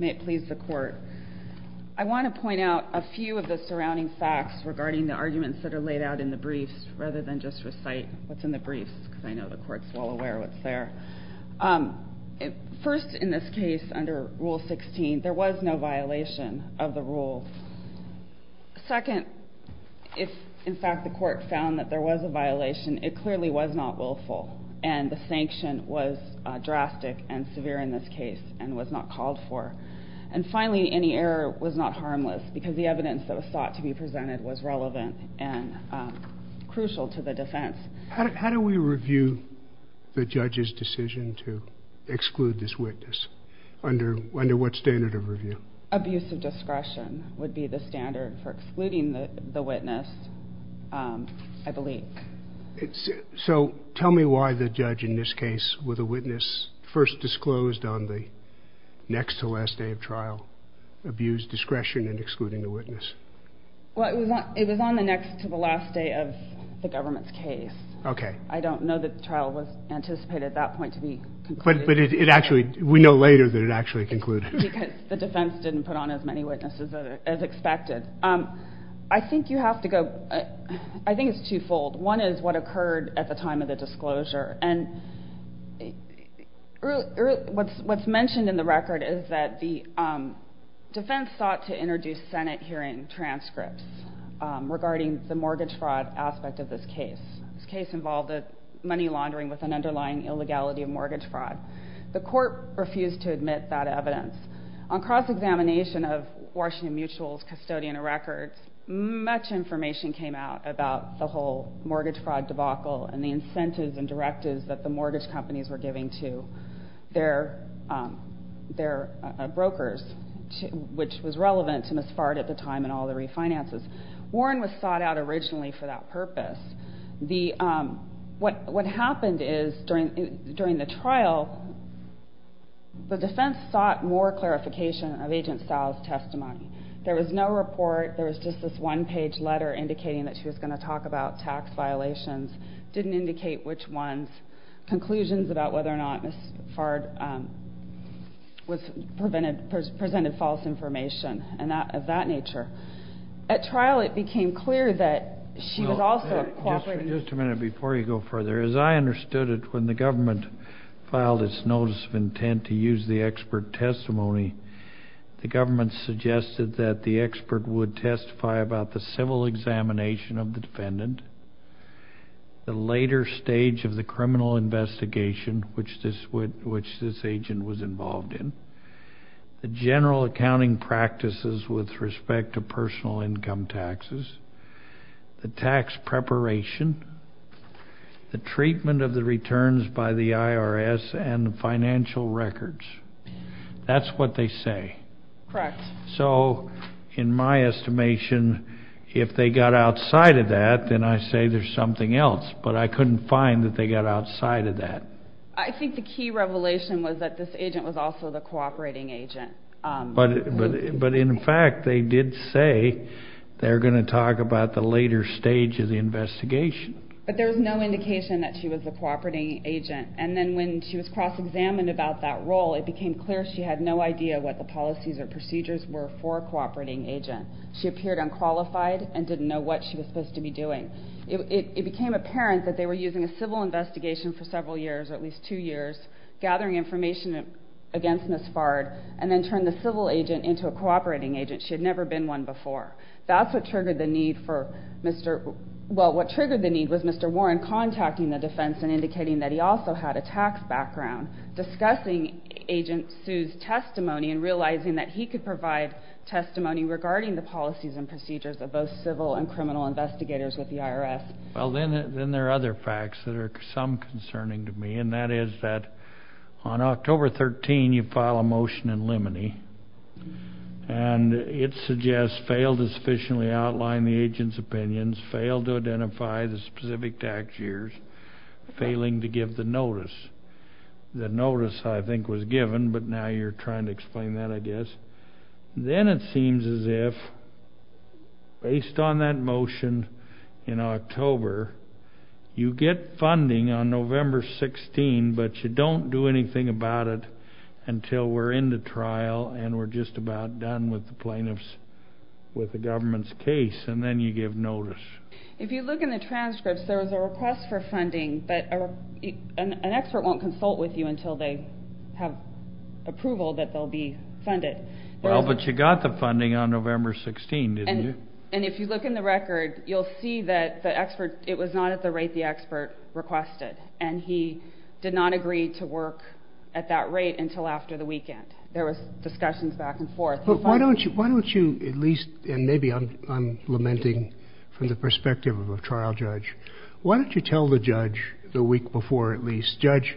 May it please the court. I want to point out a few of the surrounding facts regarding the arguments that are laid out in the briefs, rather than just recite what's in the briefs, because I know the court's well aware of what's there. First, in this case, under Rule 16, there was no violation of the rule. Second, if in fact the court found that there was a violation, it clearly was not willful, and the sanction was drastic and severe in this case, and was not called for. And finally, any error was not harmless, because the evidence that was sought to be presented was relevant and crucial to the defense. How do we review the judge's decision to exclude this witness? Under what standard of review? Abusive discretion would be the standard for excluding the witness, I believe. So tell me why the judge in this case, with a witness first disclosed on the next to last day of trial, abused discretion in excluding the witness? Well, it was on the next to the last day of the government's case. Okay. I don't know that the trial was anticipated at that point to be concluded. But it actually, we know later that it actually concluded. Because the defense didn't put on as many witnesses as expected. I think you have to go, I think it's twofold. One is what occurred at the time of the disclosure. And what's mentioned in the record is that the defense sought to introduce Senate hearing transcripts regarding the mortgage fraud aspect of this case. This case involved money laundering with an underlying illegality of mortgage fraud. The court refused to admit that evidence. On cross-examination of Washington Mutual's custodian records, much information came out about the whole mortgage fraud debacle and the incentives and directives that the mortgage companies were giving to their brokers, which was relevant to Ms. Fard at the time and all the refinances. Warren was sought out originally for that purpose. What happened is during the trial, the defense sought more clarification of Agent Sal's testimony. There was no report. There was just this one-page letter indicating that she was going to talk about tax violations. It didn't indicate which ones, conclusions about whether or not Ms. Fard presented false information of that nature. At trial, it became clear that she was also cooperating. Just a minute before you go further. As I understood it, when the government filed its notice of intent to use the expert testimony, the government suggested that the expert would testify about the civil examination of the defendant, the later stage of the criminal investigation, which this agent was involved in, the general accounting practices with respect to personal income taxes, the tax preparation, the treatment of the returns by the IRS, and the financial records. That's what they say. Correct. So in my estimation, if they got outside of that, then I say there's something else. But I couldn't find that they got outside of that. I think the key revelation was that this agent was also the cooperating agent. But in fact, they did say they're going to talk about the later stage of the investigation. But there was no indication that she was the cooperating agent. And then when she was cross-examined about that role, it became clear she had no idea what the policies or procedures were for a cooperating agent. She appeared unqualified and didn't know what she was supposed to be doing. It became apparent that they were using a civil investigation for several years, at least two years, gathering information against Ms. Fard, and then turned the civil agent into a cooperating agent. She had never been one before. That's what triggered the need for Mr. – well, what triggered the need was Mr. Warren contacting the defense and indicating that he also had a tax background, discussing Agent Sue's testimony and realizing that he could provide testimony regarding the policies and procedures of both civil and criminal investigators with the IRS. Well, then there are other facts that are some concerning to me, and that is that on October 13, you file a motion in limine. And it suggests failed to sufficiently outline the agent's opinions, failed to identify the specific tax years, failing to give the notice. The notice, I think, was given, but now you're trying to explain that, I guess. Then it seems as if, based on that motion in October, you get funding on November 16, but you don't do anything about it until we're in the trial and we're just about done with the government's case, and then you give notice. If you look in the transcripts, there was a request for funding, but an expert won't consult with you until they have approval that they'll be funded. Well, but you got the funding on November 16, didn't you? And if you look in the record, you'll see that the expert, it was not at the rate the expert requested, and he did not agree to work at that rate until after the weekend. There was discussions back and forth. Why don't you at least, and maybe I'm lamenting from the perspective of a trial judge, why don't you tell the judge, the week before at least, judge,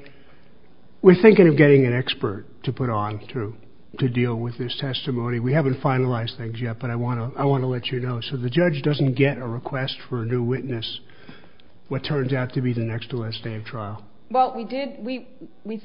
we're thinking of getting an expert to put on to deal with this testimony. We haven't finalized things yet, but I want to let you know. So the judge doesn't get a request for a new witness, what turns out to be the next to last day of trial. Well, we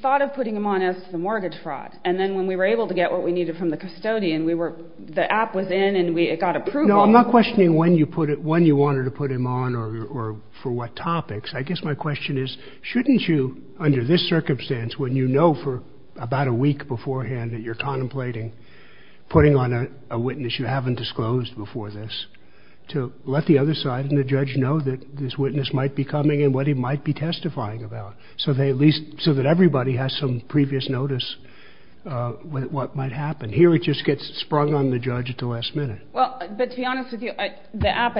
thought of putting him on as the mortgage fraud, and then when we were able to get what we needed from the custodian, the app was in and it got approval. No, I'm not questioning when you wanted to put him on or for what topics. I guess my question is, shouldn't you, under this circumstance, when you know for about a week beforehand that you're contemplating putting on a witness you haven't disclosed before this, to let the other side and the judge know that this witness might be coming and what he might be testifying about, so that everybody has some previous notice of what might happen. Here it just gets sprung on the judge at the last minute. Well, but to be honest with you, the app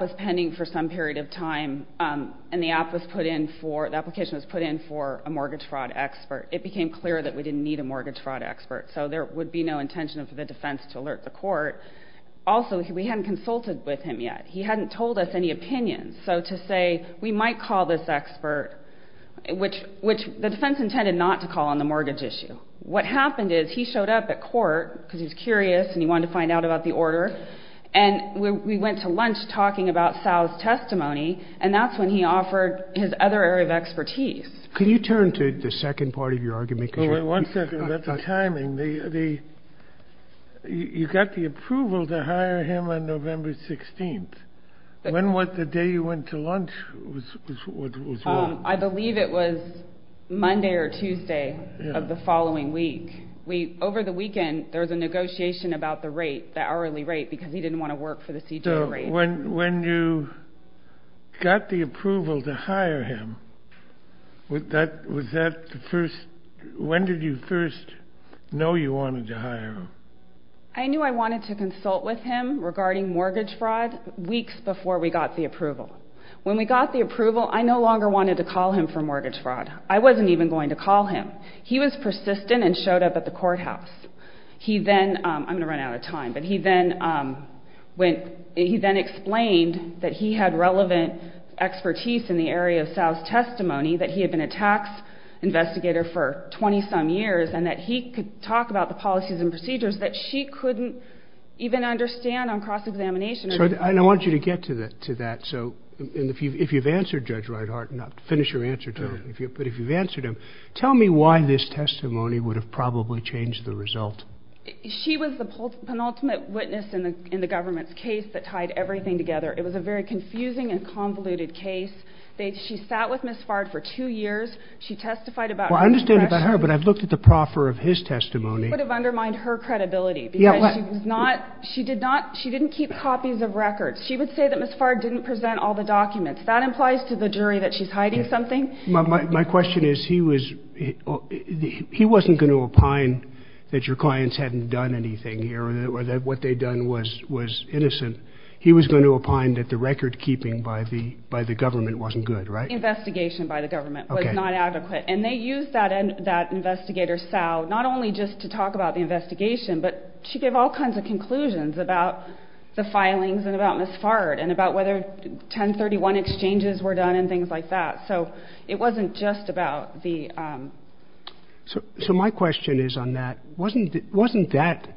was pending for some period of time, and the application was put in for a mortgage fraud expert. It became clear that we didn't need a mortgage fraud expert, so there would be no intention of the defense to alert the court. Also, we hadn't consulted with him yet. He hadn't told us any opinions. So to say we might call this expert, which the defense intended not to call on the mortgage issue. What happened is he showed up at court because he was curious and he wanted to find out about the order, and we went to lunch talking about Sal's testimony, and that's when he offered his other area of expertise. Can you turn to the second part of your argument? One second about the timing. You got the approval to hire him on November 16th. When was the day you went to lunch? I believe it was Monday or Tuesday of the following week. Over the weekend, there was a negotiation about the rate, the hourly rate, because he didn't want to work for the CJA rate. So when you got the approval to hire him, was that the first? When did you first know you wanted to hire him? I knew I wanted to consult with him regarding mortgage fraud weeks before we got the approval. When we got the approval, I no longer wanted to call him for mortgage fraud. I wasn't even going to call him. He was persistent and showed up at the courthouse. I'm going to run out of time. He then explained that he had relevant expertise in the area of Sal's testimony, that he had been a tax investigator for 20-some years, and that he could talk about the policies and procedures that she couldn't even understand on cross-examination. I want you to get to that. If you've answered Judge Reithart, and I'll finish your answer to him, but if you've answered him, tell me why this testimony would have probably changed the result. She was the penultimate witness in the government's case that tied everything together. It was a very confusing and convoluted case. She sat with Ms. Fard for two years. She testified about her impression. Well, I understand about her, but I've looked at the proffer of his testimony. It would have undermined her credibility because she didn't keep copies of records. She would say that Ms. Fard didn't present all the documents. That implies to the jury that she's hiding something. My question is, he wasn't going to opine that your clients hadn't done anything here or that what they'd done was innocent. He was going to opine that the record-keeping by the government wasn't good, right? The investigation by the government was not adequate. And they used that investigator, Sal, not only just to talk about the investigation, but she gave all kinds of conclusions about the filings and about Ms. Fard and about whether 1031 exchanges were done and things like that. So it wasn't just about the... So my question is on that. Wasn't that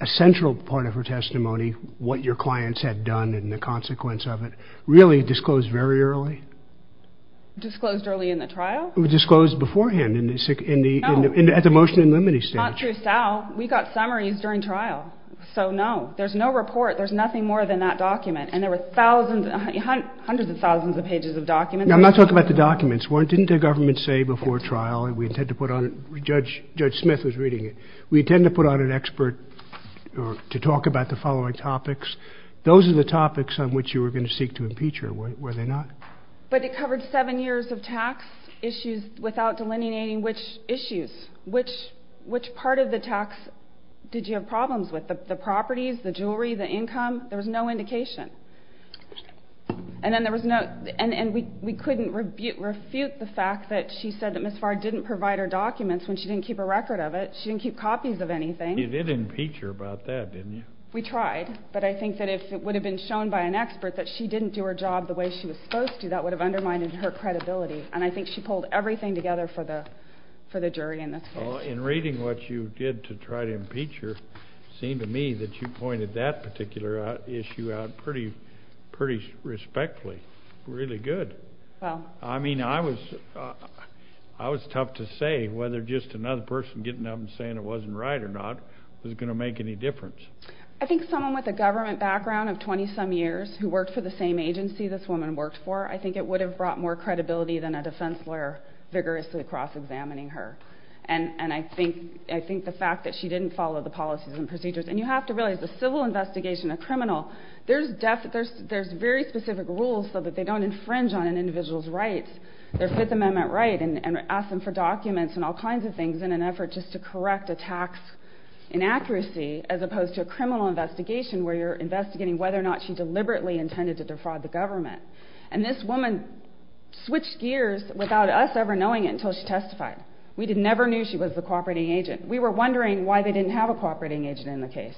a central part of her testimony, what your clients had done and the consequence of it, really disclosed very early? Disclosed early in the trial? It was disclosed beforehand at the motion and limiting stage. Not through Sal. We got summaries during trial. So, no. There's no report. There's nothing more than that document. And there were thousands, hundreds of thousands of pages of documents. Now, I'm not talking about the documents. Didn't the government say before trial, and we intend to put on... Judge Smith was reading it. We intend to put on an expert to talk about the following topics. Those are the topics on which you were going to seek to impeach her, were they not? But it covered seven years of tax issues without delineating which issues, which part of the tax did you have problems with, the properties, the jewelry, the income? There was no indication. And then there was no... And we couldn't refute the fact that she said that Ms. Farr didn't provide her documents when she didn't keep a record of it. She didn't keep copies of anything. You did impeach her about that, didn't you? We tried. But I think that if it would have been shown by an expert that she didn't do her job the way she was supposed to, that would have undermined her credibility. And I think she pulled everything together for the jury in this case. Well, in reading what you did to try to impeach her, it seemed to me that you pointed that particular issue out pretty respectfully. Really good. I mean, I was tough to say whether just another person getting up and saying it wasn't right or not was going to make any difference. I think someone with a government background of 20-some years who worked for the same agency this woman worked for, I think it would have brought more credibility than a defense lawyer vigorously cross-examining her. And I think the fact that she didn't follow the policies and procedures. And you have to realize the civil investigation of a criminal, there's very specific rules so that they don't infringe on an individual's rights, their Fifth Amendment right, and ask them for documents and all kinds of things in an effort just to correct a tax inaccuracy, as opposed to a criminal investigation where you're investigating whether or not she deliberately intended to defraud the government. And this woman switched gears without us ever knowing it until she testified. We never knew she was the cooperating agent. We were wondering why they didn't have a cooperating agent in the case.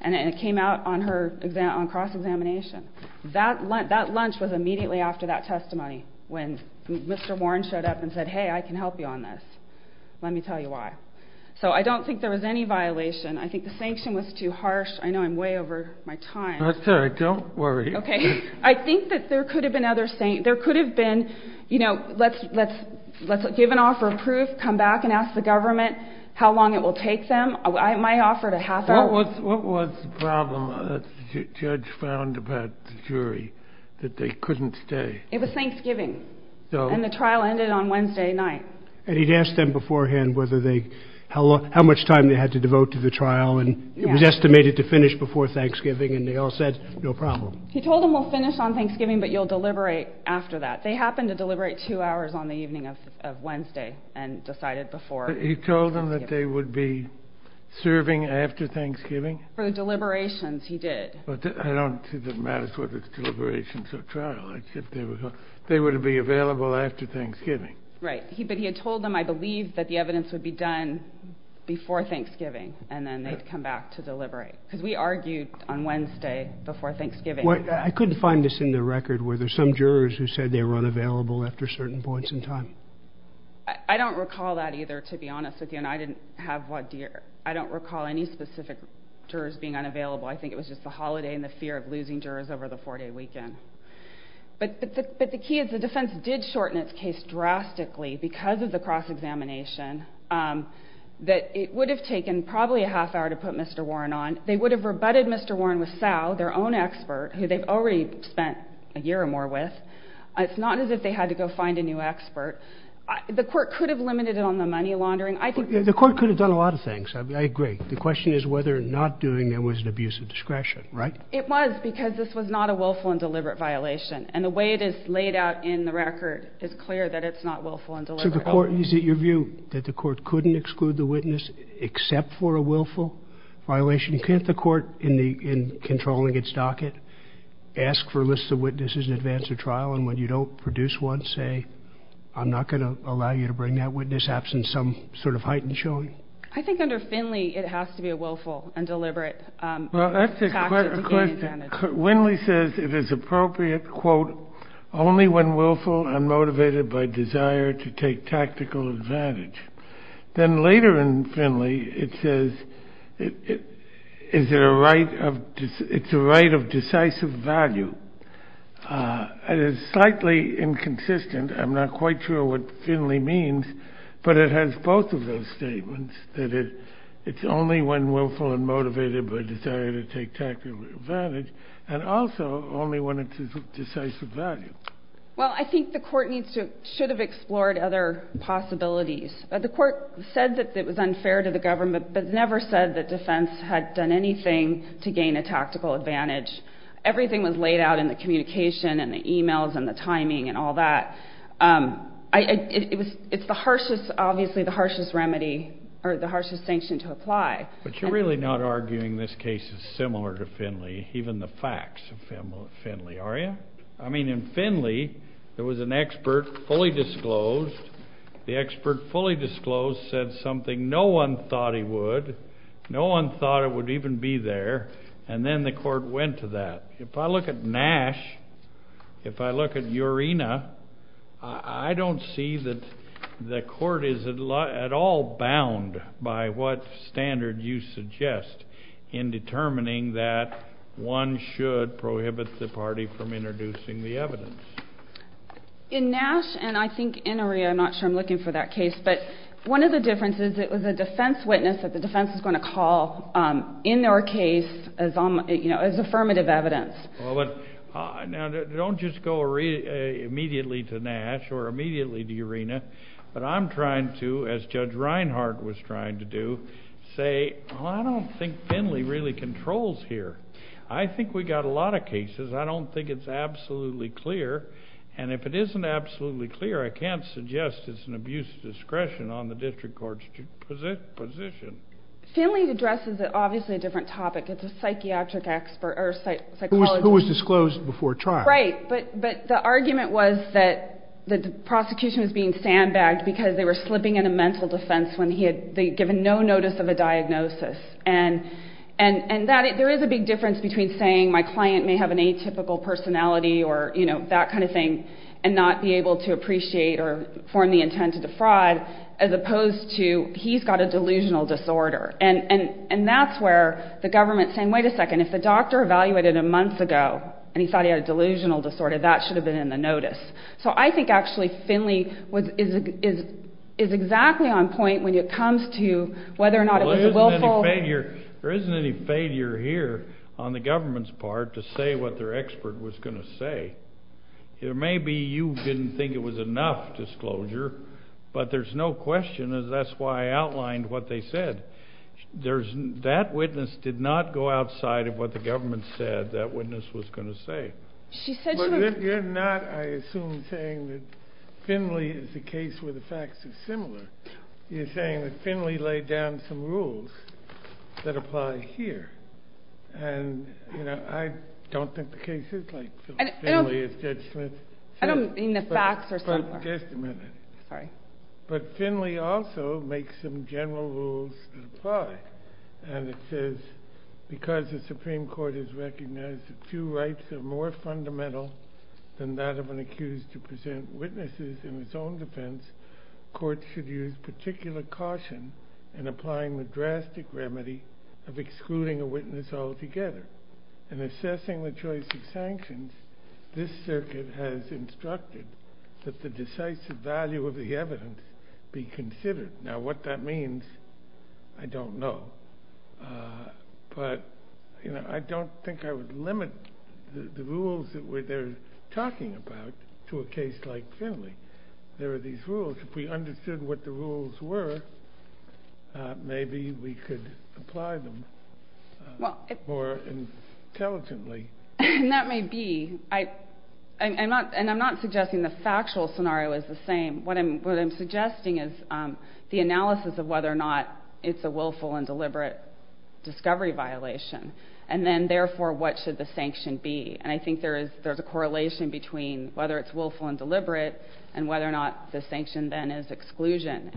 And it came out on cross-examination. That lunch was immediately after that testimony when Mr. Warren showed up and said, hey, I can help you on this. Let me tell you why. So I don't think there was any violation. I think the sanction was too harsh. I know I'm way over my time. That's all right. Don't worry. Okay. I think that there could have been other things. There could have been, you know, let's give an offer of proof, come back and ask the government how long it will take them. I might have offered a half hour. What was the problem that the judge found about the jury, that they couldn't stay? It was Thanksgiving. And the trial ended on Wednesday night. And he'd asked them beforehand how much time they had to devote to the trial, and it was estimated to finish before Thanksgiving, and they all said no problem. He told them we'll finish on Thanksgiving, but you'll deliberate after that. They happened to deliberate two hours on the evening of Wednesday and decided before Thanksgiving. He told them that they would be serving after Thanksgiving? For the deliberations he did. I don't think it matters whether it's deliberations or trial. They were to be available after Thanksgiving. Right. But he had told them, I believe, that the evidence would be done before Thanksgiving, and then they'd come back to deliberate. Because we argued on Wednesday before Thanksgiving. I couldn't find this in the record. Were there some jurors who said they were unavailable after certain points in time? I don't recall that either, to be honest with you, and I didn't have what year. I don't recall any specific jurors being unavailable. I think it was just the holiday and the fear of losing jurors over the four-day weekend. But the key is the defense did shorten its case drastically because of the cross-examination. It would have taken probably a half hour to put Mr. Warren on. They would have rebutted Mr. Warren with Sal, their own expert, who they've already spent a year or more with. It's not as if they had to go find a new expert. The court could have limited it on the money laundering. The court could have done a lot of things. I agree. The question is whether not doing it was an abuse of discretion, right? It was because this was not a willful and deliberate violation, and the way it is laid out in the record is clear that it's not willful and deliberate. So the court, is it your view that the court couldn't exclude the witness except for a willful violation? Can't the court, in controlling its docket, ask for a list of witnesses in advance of trial, and when you don't produce one, say, I'm not going to allow you to bring that witness absent some sort of heightened showing? I think under Finley, it has to be a willful and deliberate tactic to gain advantage. Well, that's a good question. Winley says it is appropriate, quote, only when willful and motivated by desire to take tactical advantage. Then later in Finley, it says it's a right of decisive value. It is slightly inconsistent. I'm not quite sure what Finley means, but it has both of those statements, that it's only when willful and motivated by desire to take tactical advantage, and also only when it's of decisive value. Well, I think the court should have explored other possibilities. The court said that it was unfair to the government, but never said that defense had done anything to gain a tactical advantage. Everything was laid out in the communication and the e-mails and the timing and all that. It's obviously the harshest remedy or the harshest sanction to apply. But you're really not arguing this case is similar to Finley, even the facts of Finley, are you? I mean, in Finley, there was an expert fully disclosed. The expert fully disclosed said something no one thought he would. No one thought it would even be there, and then the court went to that. If I look at Nash, if I look at Urena, I don't see that the court is at all bound by what standard you suggest in determining that one should prohibit the party from introducing the evidence. In Nash, and I think in Urena, I'm not sure I'm looking for that case, but one of the differences, it was a defense witness that the defense was going to call in their case as affirmative evidence. Now, don't just go immediately to Nash or immediately to Urena, but I'm trying to, as Judge Reinhardt was trying to do, say, I don't think Finley really controls here. I think we've got a lot of cases. I don't think it's absolutely clear. And if it isn't absolutely clear, I can't suggest it's an abuse of discretion on the district court's position. Finley addresses, obviously, a different topic. It's a psychiatric expert or a psychologist. Who was disclosed before trial. Right, but the argument was that the prosecution was being sandbagged because they were slipping in a mental defense when they had given no notice of a diagnosis. And there is a big difference between saying my client may have an atypical personality or that kind of thing and not be able to appreciate or form the intent to defraud as opposed to he's got a delusional disorder. And that's where the government is saying, wait a second, if the doctor evaluated him months ago and he thought he had a delusional disorder, that should have been in the notice. So I think, actually, Finley is exactly on point when it comes to whether or not it was a willful... There isn't any failure here on the government's part to say what their expert was going to say. Maybe you didn't think it was enough disclosure, but there's no question, and that's why I outlined what they said. That witness did not go outside of what the government said that witness was going to say. You're not, I assume, saying that Finley is the case where the facts are similar. You're saying that Finley laid down some rules that apply here. And I don't think the case is like Finley is Judge Smith. I don't mean the facts are similar. Just a minute. Sorry. But Finley also makes some general rules that apply. And it says, because the Supreme Court has recognized that two rights are more fundamental than that of an accused to present witnesses in his own defense, courts should use particular caution in applying the drastic remedy of excluding a witness altogether. In assessing the choice of sanctions, this circuit has instructed that the decisive value of the evidence be considered. Now, what that means, I don't know. But, you know, I don't think I would limit the rules that they're talking about to a case like Finley. There are these rules. If we understood what the rules were, maybe we could apply them more intelligently. That may be. And I'm not suggesting the factual scenario is the same. What I'm suggesting is the analysis of whether or not it's a willful and deliberate discovery violation. And then, therefore, what should the sanction be? And I think there's a correlation between whether it's willful and deliberate and whether or not the sanction then is exclusion.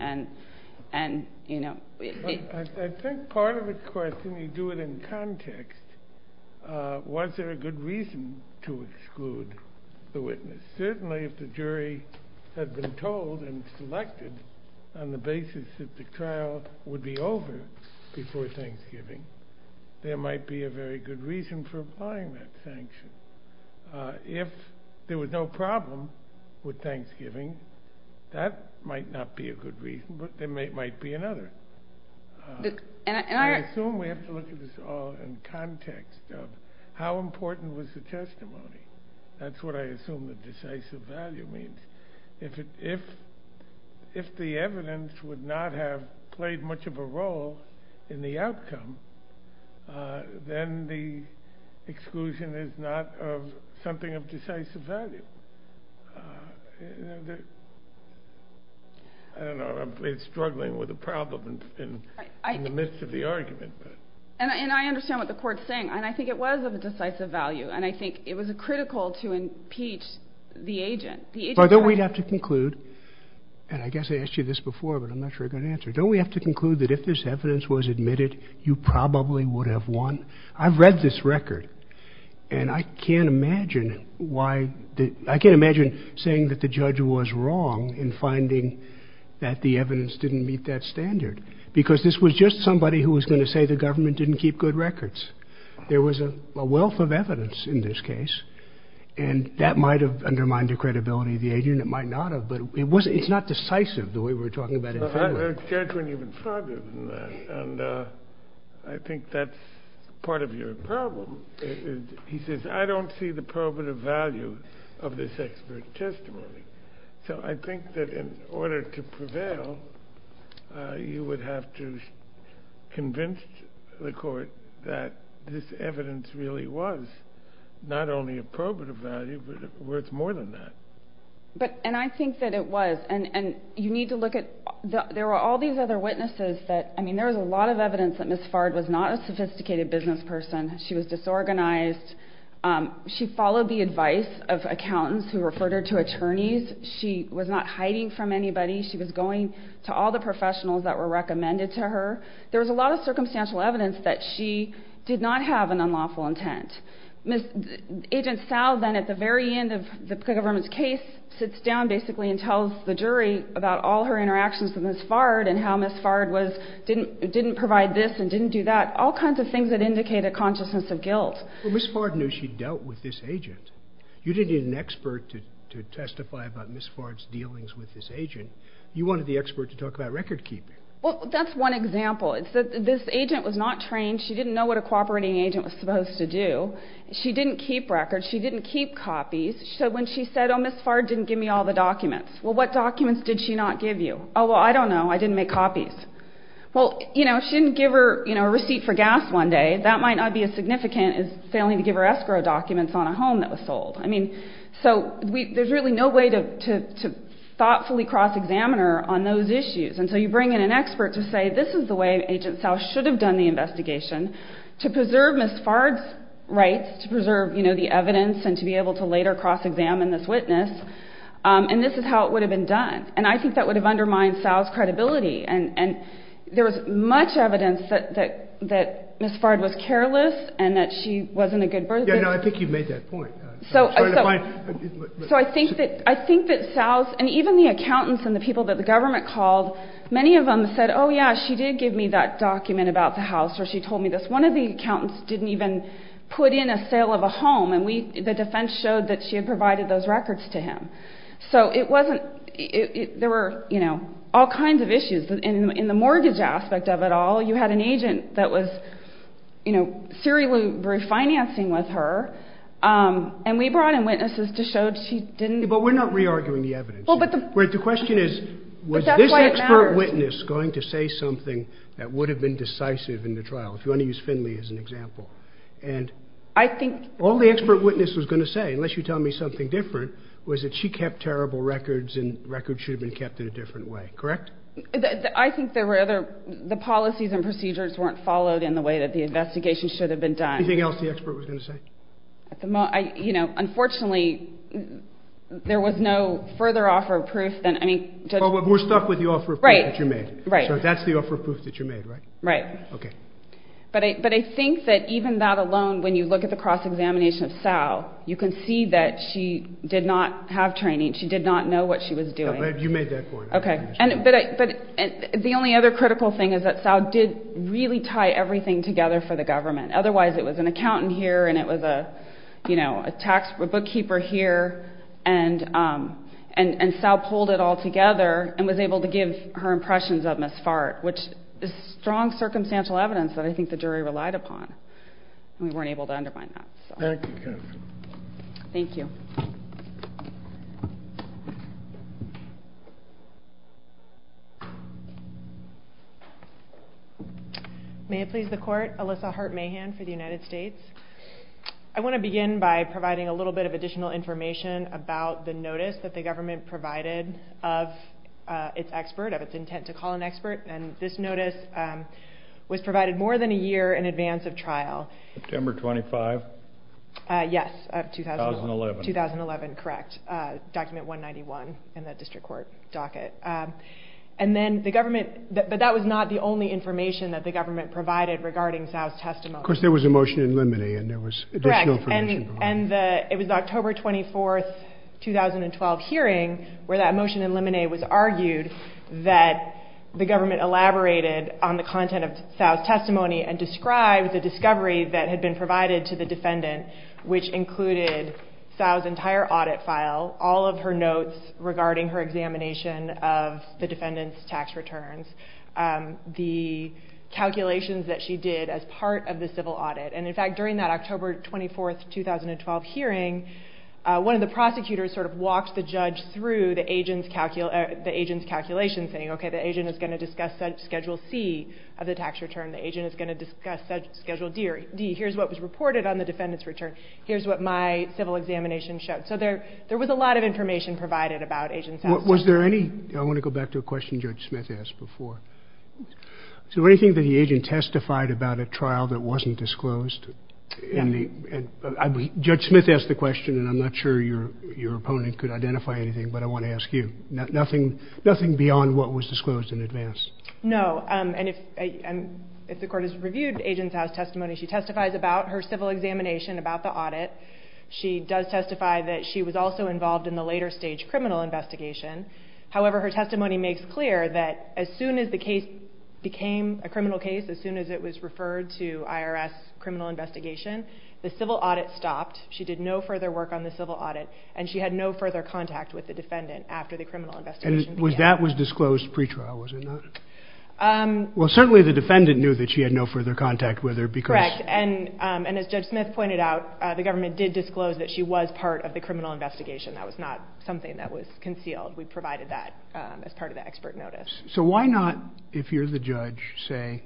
And, you know. I think part of the question, you do it in context, was there a good reason to exclude the witness? Certainly, if the jury had been told and selected on the basis that the trial would be over before Thanksgiving, there might be a very good reason for applying that sanction. If there was no problem with Thanksgiving, that might not be a good reason, but there might be another. I assume we have to look at this all in context of how important was the testimony. That's what I assume the decisive value means. If the evidence would not have played much of a role in the outcome, then the exclusion is not something of decisive value. I don't know. I'm struggling with a problem in the midst of the argument. And I understand what the court's saying. And I think it was of a decisive value. And I think it was critical to impeach the agent. But don't we have to conclude, and I guess I asked you this before, but I'm not sure I've got an answer. Don't we have to conclude that if this evidence was admitted, you probably would have won? I've read this record, and I can't imagine saying that the judge was wrong in finding that the evidence didn't meet that standard. Because this was just somebody who was going to say the government didn't keep good records. There was a wealth of evidence in this case. And that might have undermined the credibility of the agent. It might not have. But it's not decisive, the way we're talking about it today. I've heard judgment even farther than that. And I think that's part of your problem. He says, I don't see the probative value of this expert testimony. So I think that in order to prevail, you would have to convince the court that this evidence really was not only a probative value, but worth more than that. And I think that it was. And you need to look at the other witnesses. I mean, there was a lot of evidence that Ms. Fard was not a sophisticated business person. She was disorganized. She followed the advice of accountants who referred her to attorneys. She was not hiding from anybody. She was going to all the professionals that were recommended to her. There was a lot of circumstantial evidence that she did not have an unlawful intent. Agent Sal then, at the very end of the government's case, sits down basically and tells the jury about all her interactions with Ms. Fard and how Ms. Fard didn't provide this and didn't do that. All kinds of things that indicate a consciousness of guilt. Well, Ms. Fard knew she dealt with this agent. You didn't need an expert to testify about Ms. Fard's dealings with this agent. You wanted the expert to talk about record keeping. Well, that's one example. This agent was not trained. She didn't know what a cooperating agent was supposed to do. She didn't keep records. She didn't keep copies. So when she said, oh, Ms. Fard didn't give me all the documents. Well, what documents did she not give you? Oh, well, I don't know. I didn't make copies. Well, you know, she didn't give her a receipt for gas one day. That might not be as significant as failing to give her escrow documents on a home that was sold. I mean, so there's really no way to thoughtfully cross-examine her on those issues. And so you bring in an expert to say this is the way Agent Sal should have done the investigation to preserve Ms. Fard's rights, to preserve, you know, the evidence and to be able to later cross-examine this witness. And this is how it would have been done. And I think that would have undermined Sal's credibility. And there was much evidence that Ms. Fard was careless and that she wasn't a good person. Yeah, no, I think you've made that point. So I think that Sal's, and even the accountants and the people that the government called, many of them said, oh, yeah, she did give me that document about the house or she told me this. One of the accountants didn't even put in a sale of a home. And the defense showed that she had provided those records to him. So it wasn't, there were, you know, all kinds of issues. In the mortgage aspect of it all, you had an agent that was, you know, serially refinancing with her. And we brought in witnesses to show she didn't. But we're not re-arguing the evidence here. The question is was this expert witness going to say something that would have been decisive in the trial, if you want to use Finley as an example. And all the expert witness was going to say, unless you tell me something different, was that she kept terrible records and records should have been kept in a different way. Correct? I think there were other, the policies and procedures weren't followed in the way that the investigation should have been done. Anything else the expert was going to say? You know, unfortunately, there was no further offer of proof than, I mean, Well, we're stuck with the offer of proof that you made. Right. So that's the offer of proof that you made, right? Right. Okay. But I think that even that alone, when you look at the cross-examination of Sal, you can see that she did not have training. She did not know what she was doing. You made that point. Okay. But the only other critical thing is that Sal did really tie everything together for the government. Otherwise, it was an accountant here and it was a tax, a bookkeeper here, and Sal pulled it all together and was able to give her impressions of Ms. Fart, which is strong circumstantial evidence that I think the jury relied upon. We weren't able to undermine that. Thank you. Thank you. May it please the Court, Alyssa Hart-Mahan for the United States. I want to begin by providing a little bit of additional information about the notice that the government provided of its expert, of its intent to call an expert, and this notice was provided more than a year in advance of trial. September 25? Yes, 2011. 2011. 2011, correct. Document 191 in the district court docket. But that was not the only information that the government provided regarding Sal's testimony. Of course, there was a motion in limine and there was additional information. Correct, and it was October 24, 2012 hearing where that motion in limine was argued that the government elaborated on the content of Sal's testimony and described the discovery that had been provided to the defendant, which included Sal's entire audit file, all of her notes regarding her examination of the defendant's tax returns, the calculations that she did as part of the civil audit. And, in fact, during that October 24, 2012 hearing, one of the prosecutors sort of walked the judge through the agent's calculations, saying, okay, the agent is going to discuss Schedule C of the tax return, the agent is going to discuss Schedule D. Here's what was reported on the defendant's return. Here's what my civil examination showed. So there was a lot of information provided about agent's testimony. Was there any? I want to go back to a question Judge Smith asked before. Was there anything that the agent testified about at trial that wasn't disclosed? Judge Smith asked the question, and I'm not sure your opponent could identify anything, but I want to ask you. Nothing beyond what was disclosed in advance? No. And if the court has reviewed agent's house testimony, she testifies about her civil examination, about the audit. She does testify that she was also involved in the later stage criminal investigation. However, her testimony makes clear that as soon as the case became a criminal case, as soon as it was referred to IRS criminal investigation, the civil audit stopped. She did no further work on the civil audit, and she had no further contact with the defendant after the criminal investigation began. And that was disclosed pre-trial, was it not? Well, certainly the defendant knew that she had no further contact with her because... Correct. And as Judge Smith pointed out, the government did disclose that she was part of the criminal investigation. That was not something that was concealed. We provided that as part of the expert notice. So why not, if you're the judge, say,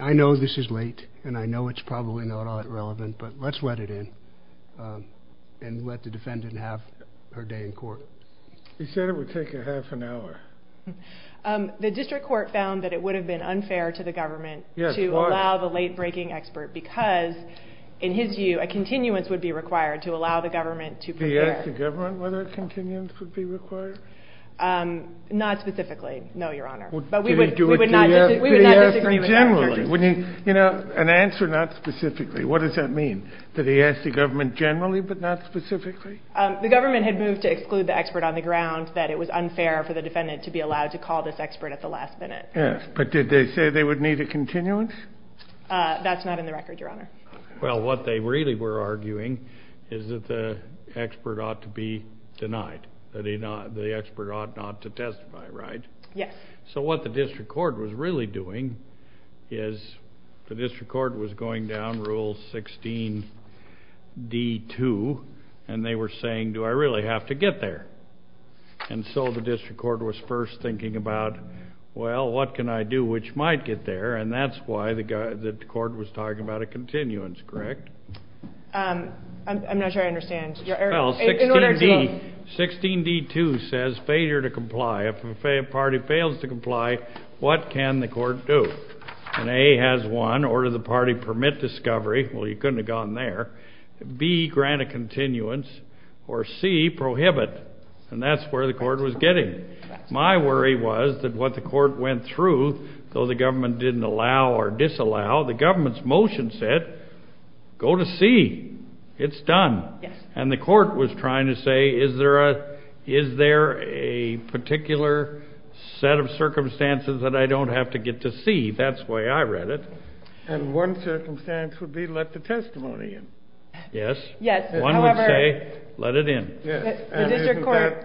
I know this is late and I know it's probably not all that relevant, but let's let it in and let the defendant have her day in court? You said it would take a half an hour. The district court found that it would have been unfair to the government... Yes, why? ...to allow the late-breaking expert because, in his view, a continuance would be required to allow the government to prepare. Did he ask the government whether a continuance would be required? Not specifically, no, Your Honor. But we would not disagree with that. Did he ask her generally? You know, an answer not specifically. What does that mean? Did he ask the government generally but not specifically? The government had moved to exclude the expert on the ground that it was unfair for the defendant to be allowed to call this expert at the last minute. Yes, but did they say they would need a continuance? That's not in the record, Your Honor. Well, what they really were arguing is that the expert ought to be denied, that the expert ought not to testify, right? Yes. So what the district court was really doing is the district court was going down Rule 16d-2, and they were saying, Do I really have to get there? And so the district court was first thinking about, Well, what can I do which might get there? And that's why the court was talking about a continuance, correct? I'm not sure I understand. Well, 16d-2 says failure to comply. If a party fails to comply, what can the court do? And A has one, order the party permit discovery. Well, you couldn't have gone there. B, grant a continuance, or C, prohibit. And that's where the court was getting. My worry was that what the court went through, though the government didn't allow or disallow, the government's motion said, Go to C. It's done. And the court was trying to say, Is there a particular set of circumstances that I don't have to get to C? That's the way I read it. And one circumstance would be let the testimony in. Yes. One would say, Let it in. And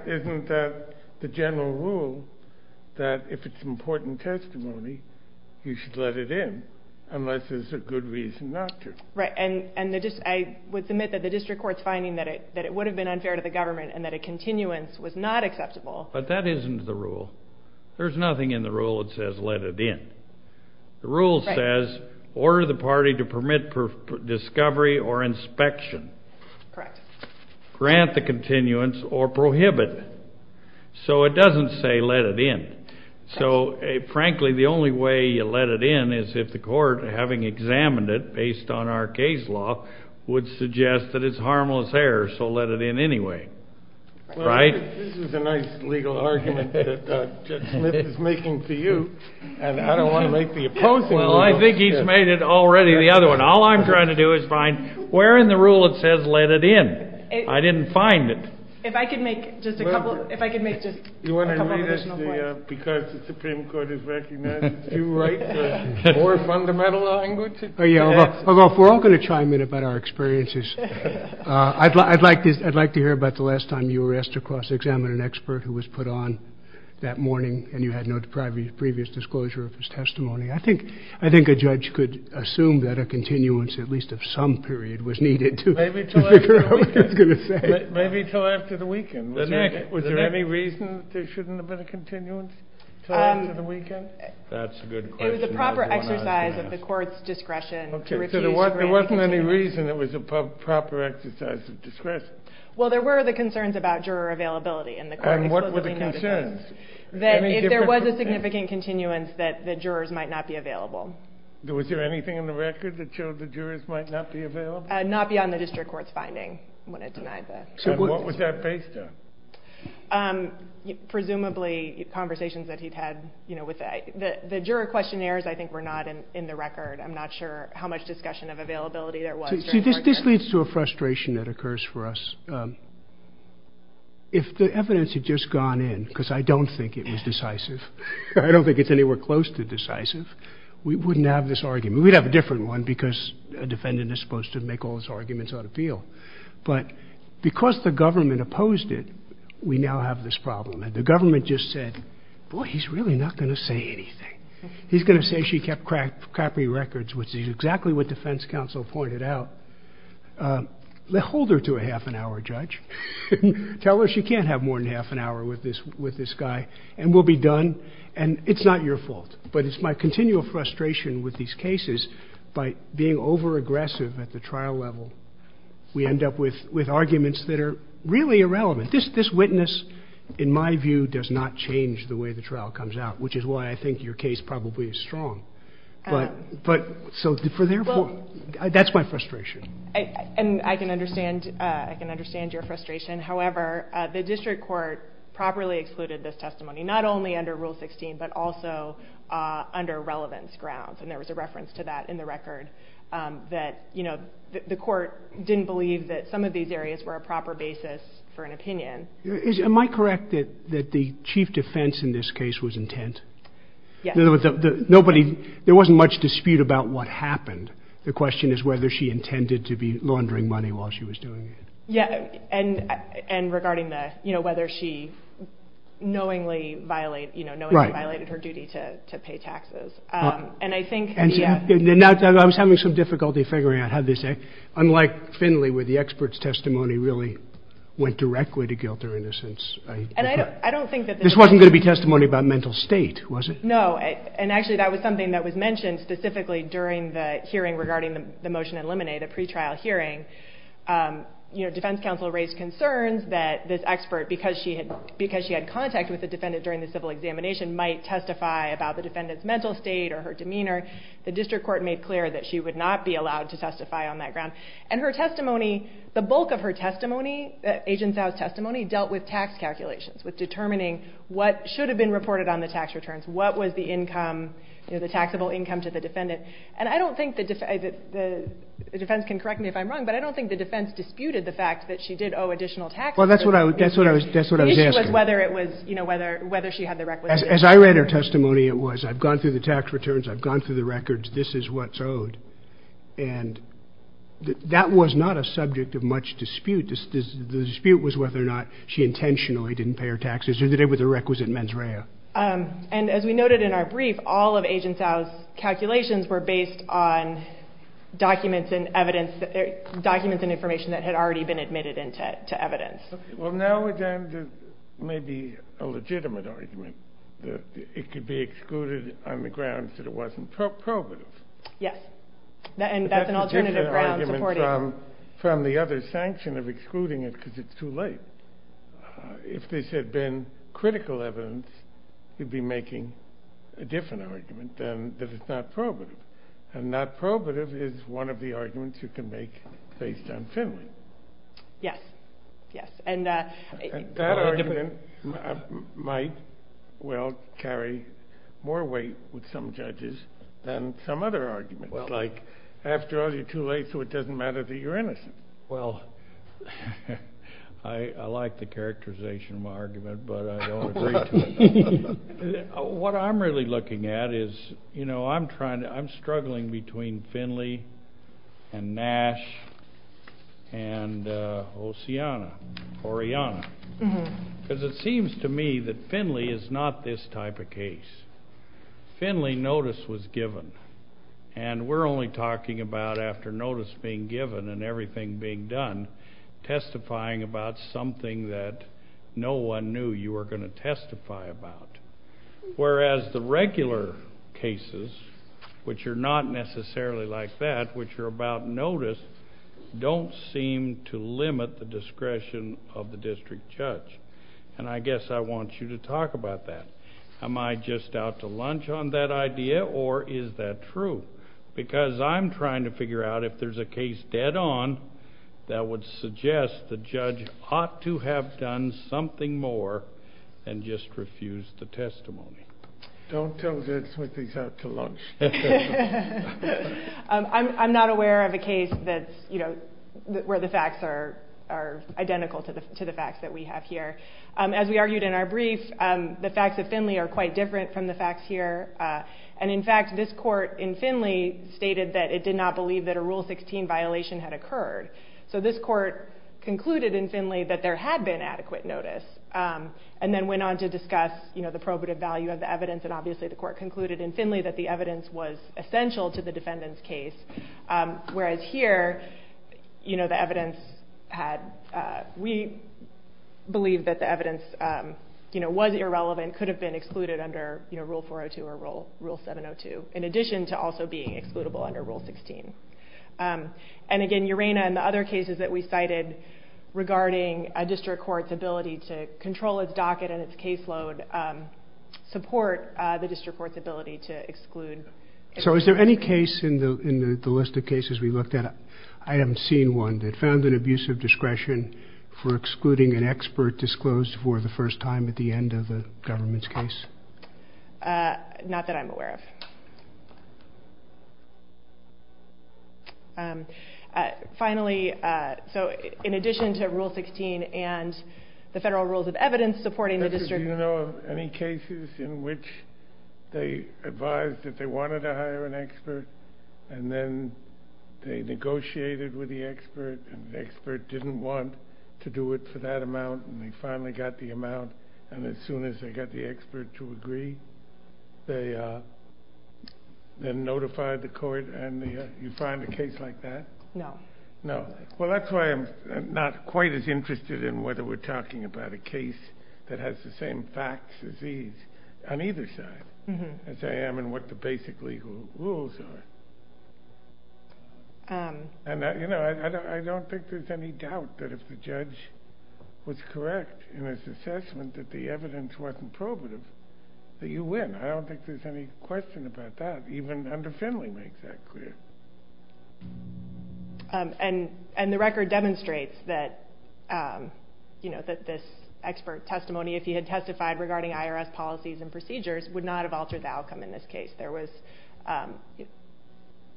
isn't that the general rule that if it's an important testimony, you should let it in unless there's a good reason not to? Right. And I would submit that the district court's finding that it would have been unfair to the government and that a continuance was not acceptable. But that isn't the rule. There's nothing in the rule that says let it in. The rule says, Order the party to permit discovery or inspection. Correct. Grant the continuance or prohibit. So it doesn't say let it in. So, frankly, the only way you let it in is if the court, having examined it based on our case law, would suggest that it's harmless error, so let it in anyway. Right? This is a nice legal argument that Judge Smith is making to you. And I don't want to make the opposing rules. Well, I think he's made it already the other one. All I'm trying to do is find where in the rule it says let it in. I didn't find it. If I could make just a couple additional points. You want to read this because the Supreme Court has recognized that you write more fundamental language? Yeah. We're all going to chime in about our experiences. I'd like to hear about the last time you were asked to cross-examine an expert who was put on that morning and you had no previous disclosure of his testimony. I think a judge could assume that a continuance, at least of some period, was needed to figure out what he was going to say. Maybe until after the weekend. Was there any reason that there shouldn't have been a continuance until after the weekend? That's a good question. It was a proper exercise of the Court's discretion. There wasn't any reason it was a proper exercise of discretion. Well, there were the concerns about juror availability, and the Court explicitly noted those. There was a significant continuance that the jurors might not be available. Was there anything in the record that showed the jurors might not be available? Not beyond the district court's finding. What was that based on? Presumably conversations that he'd had. The juror questionnaires, I think, were not in the record. I'm not sure how much discussion of availability there was. This leads to a frustration that occurs for us. If the evidence had just gone in, because I don't think it was decisive, I don't think it's anywhere close to decisive, we wouldn't have this argument. We'd have a different one, because a defendant is supposed to make all his arguments on appeal. But because the government opposed it, we now have this problem. The government just said, boy, he's really not going to say anything. He's going to say she kept crappy records, which is exactly what defense counsel pointed out. Hold her to a half an hour, Judge. Tell her she can't have more than half an hour with this guy, and we'll be done, and it's not your fault. But it's my continual frustration with these cases. By being over-aggressive at the trial level, we end up with arguments that are really irrelevant. This witness, in my view, does not change the way the trial comes out, which is why I think your case probably is strong. So that's my frustration. And I can understand your frustration. However, the district court properly excluded this testimony, not only under Rule 16, but also under relevance grounds. And there was a reference to that in the record, that the court didn't believe that some of these areas were a proper basis for an opinion. Am I correct that the chief defense in this case was intent? Yes. In other words, there wasn't much dispute about what happened. The question is whether she intended to be laundering money while she was doing it. Yeah, and regarding whether she knowingly violated her duty to pay taxes. And I think— I was having some difficulty figuring out how to say. Unlike Finley, where the expert's testimony really went directly to guilt or innocence— And I don't think that— This wasn't going to be testimony about mental state, was it? No, and actually that was something that was mentioned specifically during the hearing regarding the motion to eliminate, the pretrial hearing. Defense counsel raised concerns that this expert, because she had contact with the defendant during the civil examination, might testify about the defendant's mental state or her demeanor. The district court made clear that she would not be allowed to testify on that ground. And her testimony, the bulk of her testimony, Agent Sowe's testimony, dealt with tax calculations, with determining what should have been reported on the tax returns, what was the income, the taxable income to the defendant. And I don't think—the defense can correct me if I'm wrong, but I don't think the defense disputed the fact that she did owe additional taxes. Well, that's what I was asking. The issue was whether she had the requisite— As I read her testimony, it was, I've gone through the tax returns, I've gone through the records, this is what's owed. And that was not a subject of much dispute. The dispute was whether or not she intentionally didn't pay her taxes or that it was a requisite mens rea. And as we noted in our brief, all of Agent Sowe's calculations were based on documents and evidence, documents and information that had already been admitted into evidence. Well, now we're down to maybe a legitimate argument, that it could be excluded on the grounds that it wasn't probative. And that's an alternative ground supporting— But that's a different argument from the other sanction of excluding it because it's too late. If this had been critical evidence, you'd be making a different argument than that it's not probative. And not probative is one of the arguments you can make based on finling. Yes, yes. And that argument might, well, carry more weight with some judges than some other arguments. Like, after all, you're too late so it doesn't matter that you're innocent. Well, I like the characterization of my argument, but I don't agree to it. What I'm really looking at is, you know, I'm struggling between Finley and Nash and Oceana, Oriana, because it seems to me that Finley is not this type of case. Finley notice was given, and we're only talking about after notice being given and everything being done, testifying about something that no one knew you were going to testify about. Whereas the regular cases, which are not necessarily like that, which are about notice, don't seem to limit the discretion of the district judge. And I guess I want you to talk about that. Am I just out to lunch on that idea, or is that true? Because I'm trying to figure out if there's a case dead on that would suggest the judge ought to have done something more than just refuse the testimony. Don't tell judge Smith he's out to lunch. I'm not aware of a case that's, you know, where the facts are identical to the facts that we have here. As we argued in our brief, the facts of Finley are quite different from the facts here. And in fact, this court in Finley stated that it did not believe that a Rule 16 violation had occurred. So this court concluded in Finley that there had been adequate notice and then went on to discuss the probative value of the evidence, and obviously the court concluded in Finley that the evidence was essential to the defendant's case. Whereas here, you know, the evidence had... We believe that the evidence, you know, was irrelevant, could have been excluded under Rule 402 or Rule 702, in addition to also being excludable under Rule 16. And again, Urena and the other cases that we cited regarding a district court's ability to control its docket and its caseload support the district court's ability to exclude... So is there any case in the list of cases we looked at, I haven't seen one, that found an abusive discretion for excluding an expert disclosed for the first time at the end of the government's case? Not that I'm aware of. Finally, so in addition to Rule 16 and the federal rules of evidence supporting the district... Do you know of any cases in which they advised that they wanted to hire an expert and then they negotiated with the expert and the expert didn't want to do it for that amount and they finally got the amount and as soon as they got the expert to agree, they notified the court and you find a case like that? No. No. Well, that's why I'm not quite as interested in whether we're talking about a case that has the same facts as these on either side as I am in what the basic legal rules are. And, you know, I don't think there's any doubt that if the judge was correct in his assessment that the evidence wasn't probative, that you win. I don't think there's any question about that, even under Finley makes that clear. And the record demonstrates that, you know, that this expert testimony, if he had testified regarding IRS policies and procedures, would not have altered the outcome in this case. There was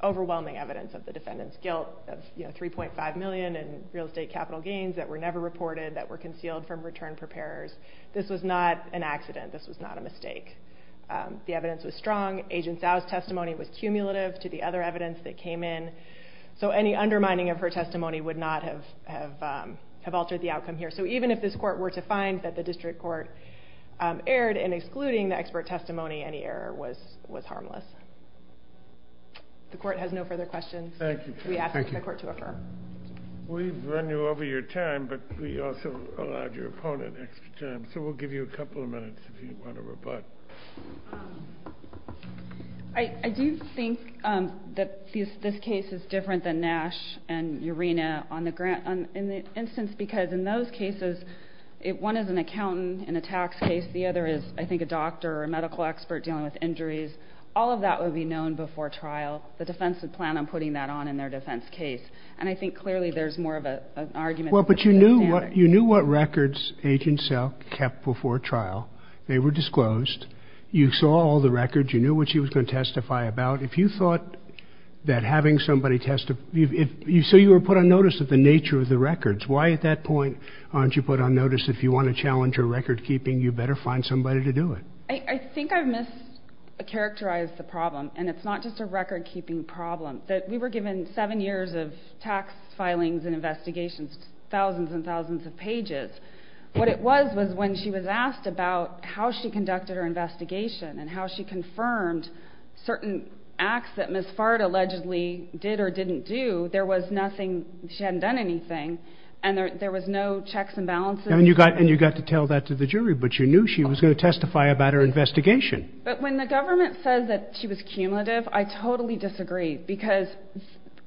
overwhelming evidence of the defendant's guilt of, you know, $3.5 million in real estate capital gains that were never reported, that were concealed from return preparers. This was not an accident. This was not a mistake. The evidence was strong. Agent Sow's testimony was cumulative to the other evidence that came in. So any undermining of her testimony would not have altered the outcome here. So even if this court were to find that the district court erred in excluding the expert testimony, any error was harmless. The court has no further questions. Thank you. We ask that the court to affirm. We've run you over your time, but we also allowed your opponent extra time. So we'll give you a couple of minutes if you want to rebut. I do think that this case is different than Nash and Urena. In the instance, because in those cases, one is an accountant in a tax case, the other is, I think, a doctor or a medical expert dealing with injuries. All of that would be known before trial. The defense would plan on putting that on in their defense case. And I think clearly there's more of an argument. Well, but you knew what records Agent Sow kept before trial. They were disclosed. You saw all the records. You knew what she was going to testify about. If you thought that having somebody testify... So you were put on notice of the nature of the records. Why, at that point, aren't you put on notice if you want to challenge her record-keeping, you better find somebody to do it? I think I've mischaracterized the problem, and it's not just a record-keeping problem. We were given 7 years of tax filings and investigations, thousands and thousands of pages. What it was was when she was asked about how she conducted her investigation and how she confirmed certain acts that Ms. Fard allegedly did or didn't do, there was nothing, she hadn't done anything, and there was no checks and balances. And you got to tell that to the jury, but you knew she was going to testify about her investigation. But when the government says that she was cumulative, I totally disagree, because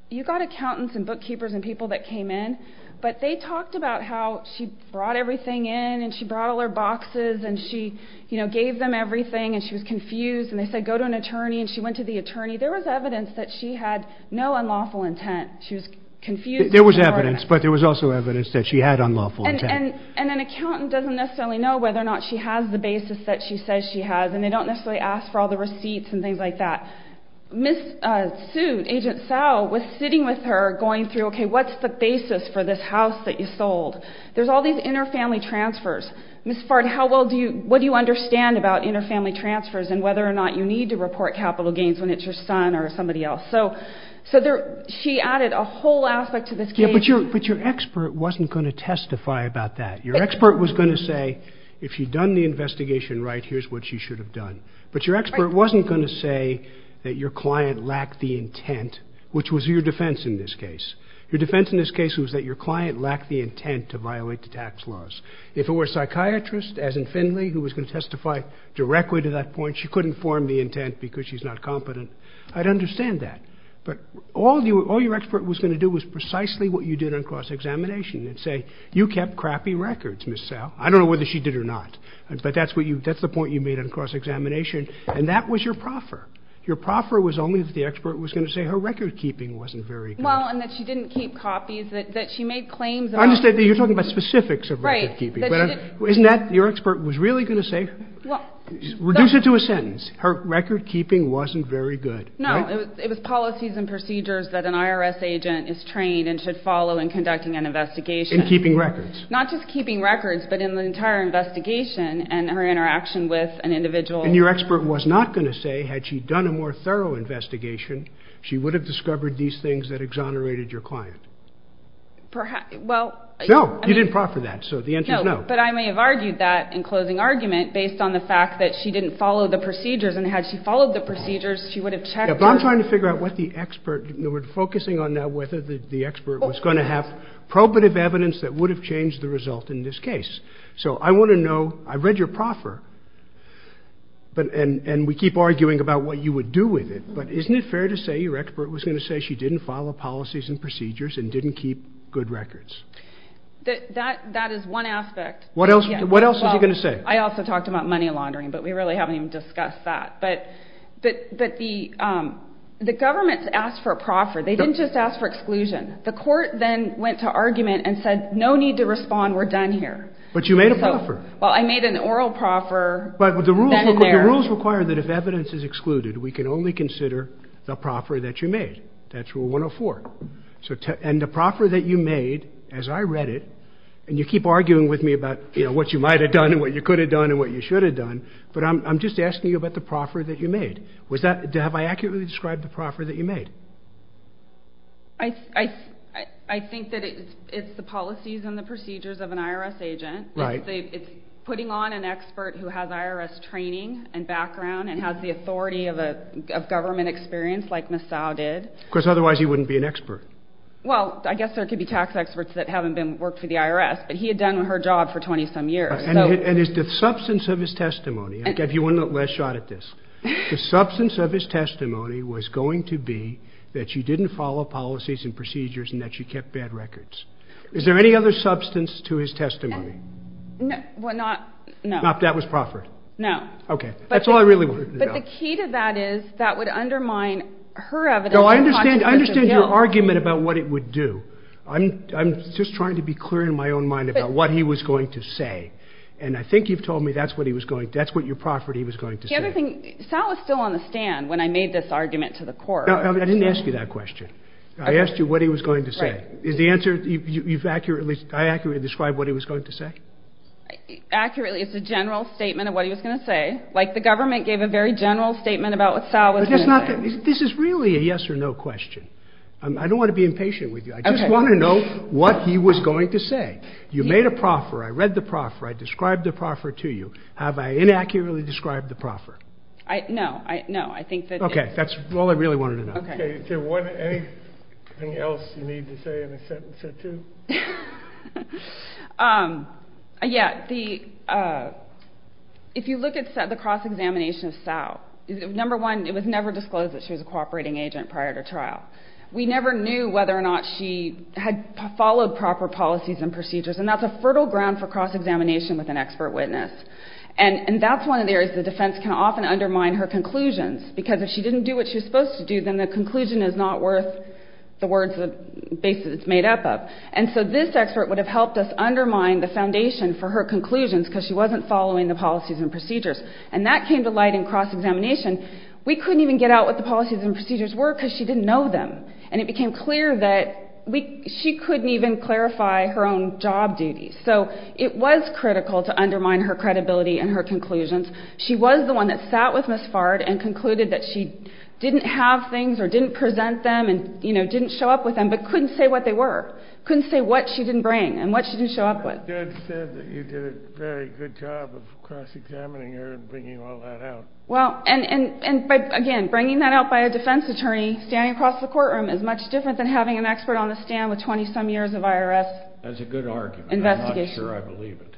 you've got accountants and bookkeepers and people that came in, but they talked about how she brought everything in and she brought all her boxes and she gave them everything and she was confused, and they said, go to an attorney, and she went to the attorney. There was evidence that she had no unlawful intent. She was confused... There was evidence, but there was also evidence that she had unlawful intent. And an accountant doesn't necessarily know whether or not she has the basis that she says she has, and they don't necessarily ask for all the receipts and things like that. Ms. Suit, Agent Sow, was sitting with her going through, okay, what's the basis for this house that you sold? There's all these inter-family transfers. Ms. Fard, what do you understand about inter-family transfers and whether or not you need to report capital gains when it's your son or somebody else? So she added a whole aspect to this case. But your expert wasn't going to testify about that. Your expert was going to say, if she'd done the investigation right, here's what she should have done. But your expert wasn't going to say that your client lacked the intent, which was your defense in this case. Your defense in this case was that your client lacked the intent to violate the tax laws. If it were a psychiatrist, as in Finley, who was going to testify directly to that point, she couldn't form the intent because she's not competent. I'd understand that. But all your expert was going to do was precisely what you did on cross-examination and say, you kept crappy records, Ms. Sow. I don't know whether she did or not, but that's the point you made on cross-examination. And that was your proffer. Your proffer was only that the expert was going to say her record-keeping wasn't very good. Well, and that she didn't keep copies, that she made claims about... I understand that you're talking about specifics of record-keeping. Right. But isn't that what your expert was really going to say? Well... Reduce it to a sentence. Her record-keeping wasn't very good. No. It was policies and procedures that an IRS agent is trained and should follow in conducting an investigation. In keeping records. Not just keeping records, but in the entire investigation and her interaction with an individual. And your expert was not going to say, had she done a more thorough investigation, she would have discovered these things that exonerated your client. Perhaps, well... No, you didn't proffer that, so the answer is no. No, but I may have argued that in closing argument based on the fact that she didn't follow the procedures. And had she followed the procedures, she would have checked... But I'm trying to figure out what the expert... We're focusing on now whether the expert was going to have probative evidence that would have changed the result in this case. So I want to know... I've read your proffer. And we keep arguing about what you would do with it. But isn't it fair to say your expert was going to say she didn't follow policies and procedures and didn't keep good records? That is one aspect. What else was she going to say? I also talked about money laundering, but we really haven't even discussed that. But the government's asked for a proffer. They didn't just ask for exclusion. The court then went to argument and said, no need to respond, we're done here. But you made a proffer. Well, I made an oral proffer. But the rules require that if evidence is excluded, we can only consider the proffer that you made. That's Rule 104. And the proffer that you made, as I read it, and you keep arguing with me about what you might have done and what you could have done and what you should have done, but I'm just asking you about the proffer that you made. Have I accurately described the proffer that you made? I think that it's the policies and the procedures of an IRS agent. It's putting on an expert who has IRS training and background and has the authority of government experience, like Ms. Tsao did. Because otherwise he wouldn't be an expert. Well, I guess there could be tax experts that haven't worked for the IRS, but he had done her job for 20-some years. And it's the substance of his testimony. I gave you one last shot at this. The substance of his testimony was going to be that she didn't follow policies and procedures and that she kept bad records. Is there any other substance to his testimony? Well, not... Not that was proffered? No. Okay, that's all I really wanted to know. But the key to that is that would undermine her evidence of consensus of guilt. No, I understand your argument about what it would do. I'm just trying to be clear in my own mind about what he was going to say. And I think you've told me that's what your proffer that he was going to say. The other thing, Sal was still on the stand when I made this argument to the court. No, I didn't ask you that question. I asked you what he was going to say. Is the answer... I accurately described what he was going to say? Accurately, it's a general statement of what he was going to say. Like the government gave a very general statement about what Sal was going to say. This is really a yes or no question. I don't want to be impatient with you. I just want to know what he was going to say. You made a proffer. I read the proffer. I described the proffer to you. Have I inaccurately described the proffer? No, I think that... Okay, that's all I really wanted to know. Okay, is there anything else you need to say in a sentence or two? Yeah, if you look at the cross-examination of Sal, number one, it was never disclosed that she was a cooperating agent prior to trial. We never knew whether or not she had followed proper policies and procedures, and that's a fertile ground for cross-examination with an expert witness. And that's one of the areas where the defense can often undermine her conclusions, because if she didn't do what she was supposed to do, then the conclusion is not worth the words and the basis it's made up of. And so this expert would have helped us undermine the foundation for her conclusions because she wasn't following the policies and procedures. And that came to light in cross-examination. We couldn't even get out what the policies and procedures were because she didn't know them, and it became clear that she couldn't even clarify her own job duties. So it was critical to undermine her credibility and her conclusions. She was the one that sat with Ms. Fard and concluded that she didn't have things or didn't present them and didn't show up with them, but couldn't say what they were, couldn't say what she didn't bring and what she didn't show up with. You did a very good job of cross-examining her and bringing all that out. Well, and again, bringing that out by a defense attorney standing across the courtroom is much different than having an expert on the stand with 20-some years of IRS investigation. That's a good argument. I'm not sure I believe it.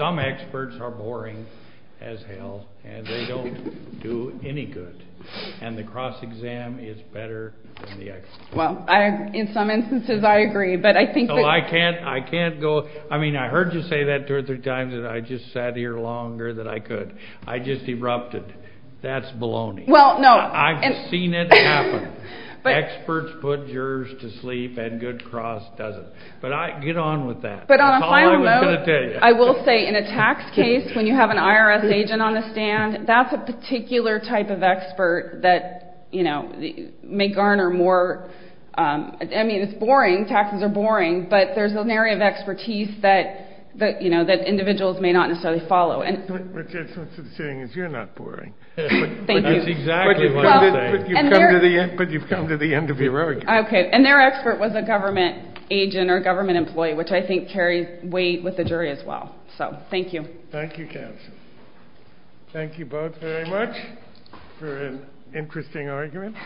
Some experts are boring as hell, and they don't do any good. And the cross-exam is better than the expert. Well, in some instances I agree, but I think that... No, I can't go... I mean, I heard you say that two or three times and I just sat here longer than I could. I just erupted. That's baloney. Well, no... I've seen it happen. Experts put jurors to sleep and Good Cross doesn't. But get on with that. That's all I was going to tell you. But on a final note, I will say in a tax case, when you have an IRS agent on the stand, that's a particular type of expert that may garner more... I mean, it's boring. Taxes are boring. But there's an area of expertise that individuals may not necessarily follow. Thank you. That's exactly what I'm saying. But you've come to the end of your argument. Okay, and their expert was a government agent or a government employee, which I think carried weight with the jury as well. So, thank you. Thank you, Kass. Thank you both very much for an interesting argument.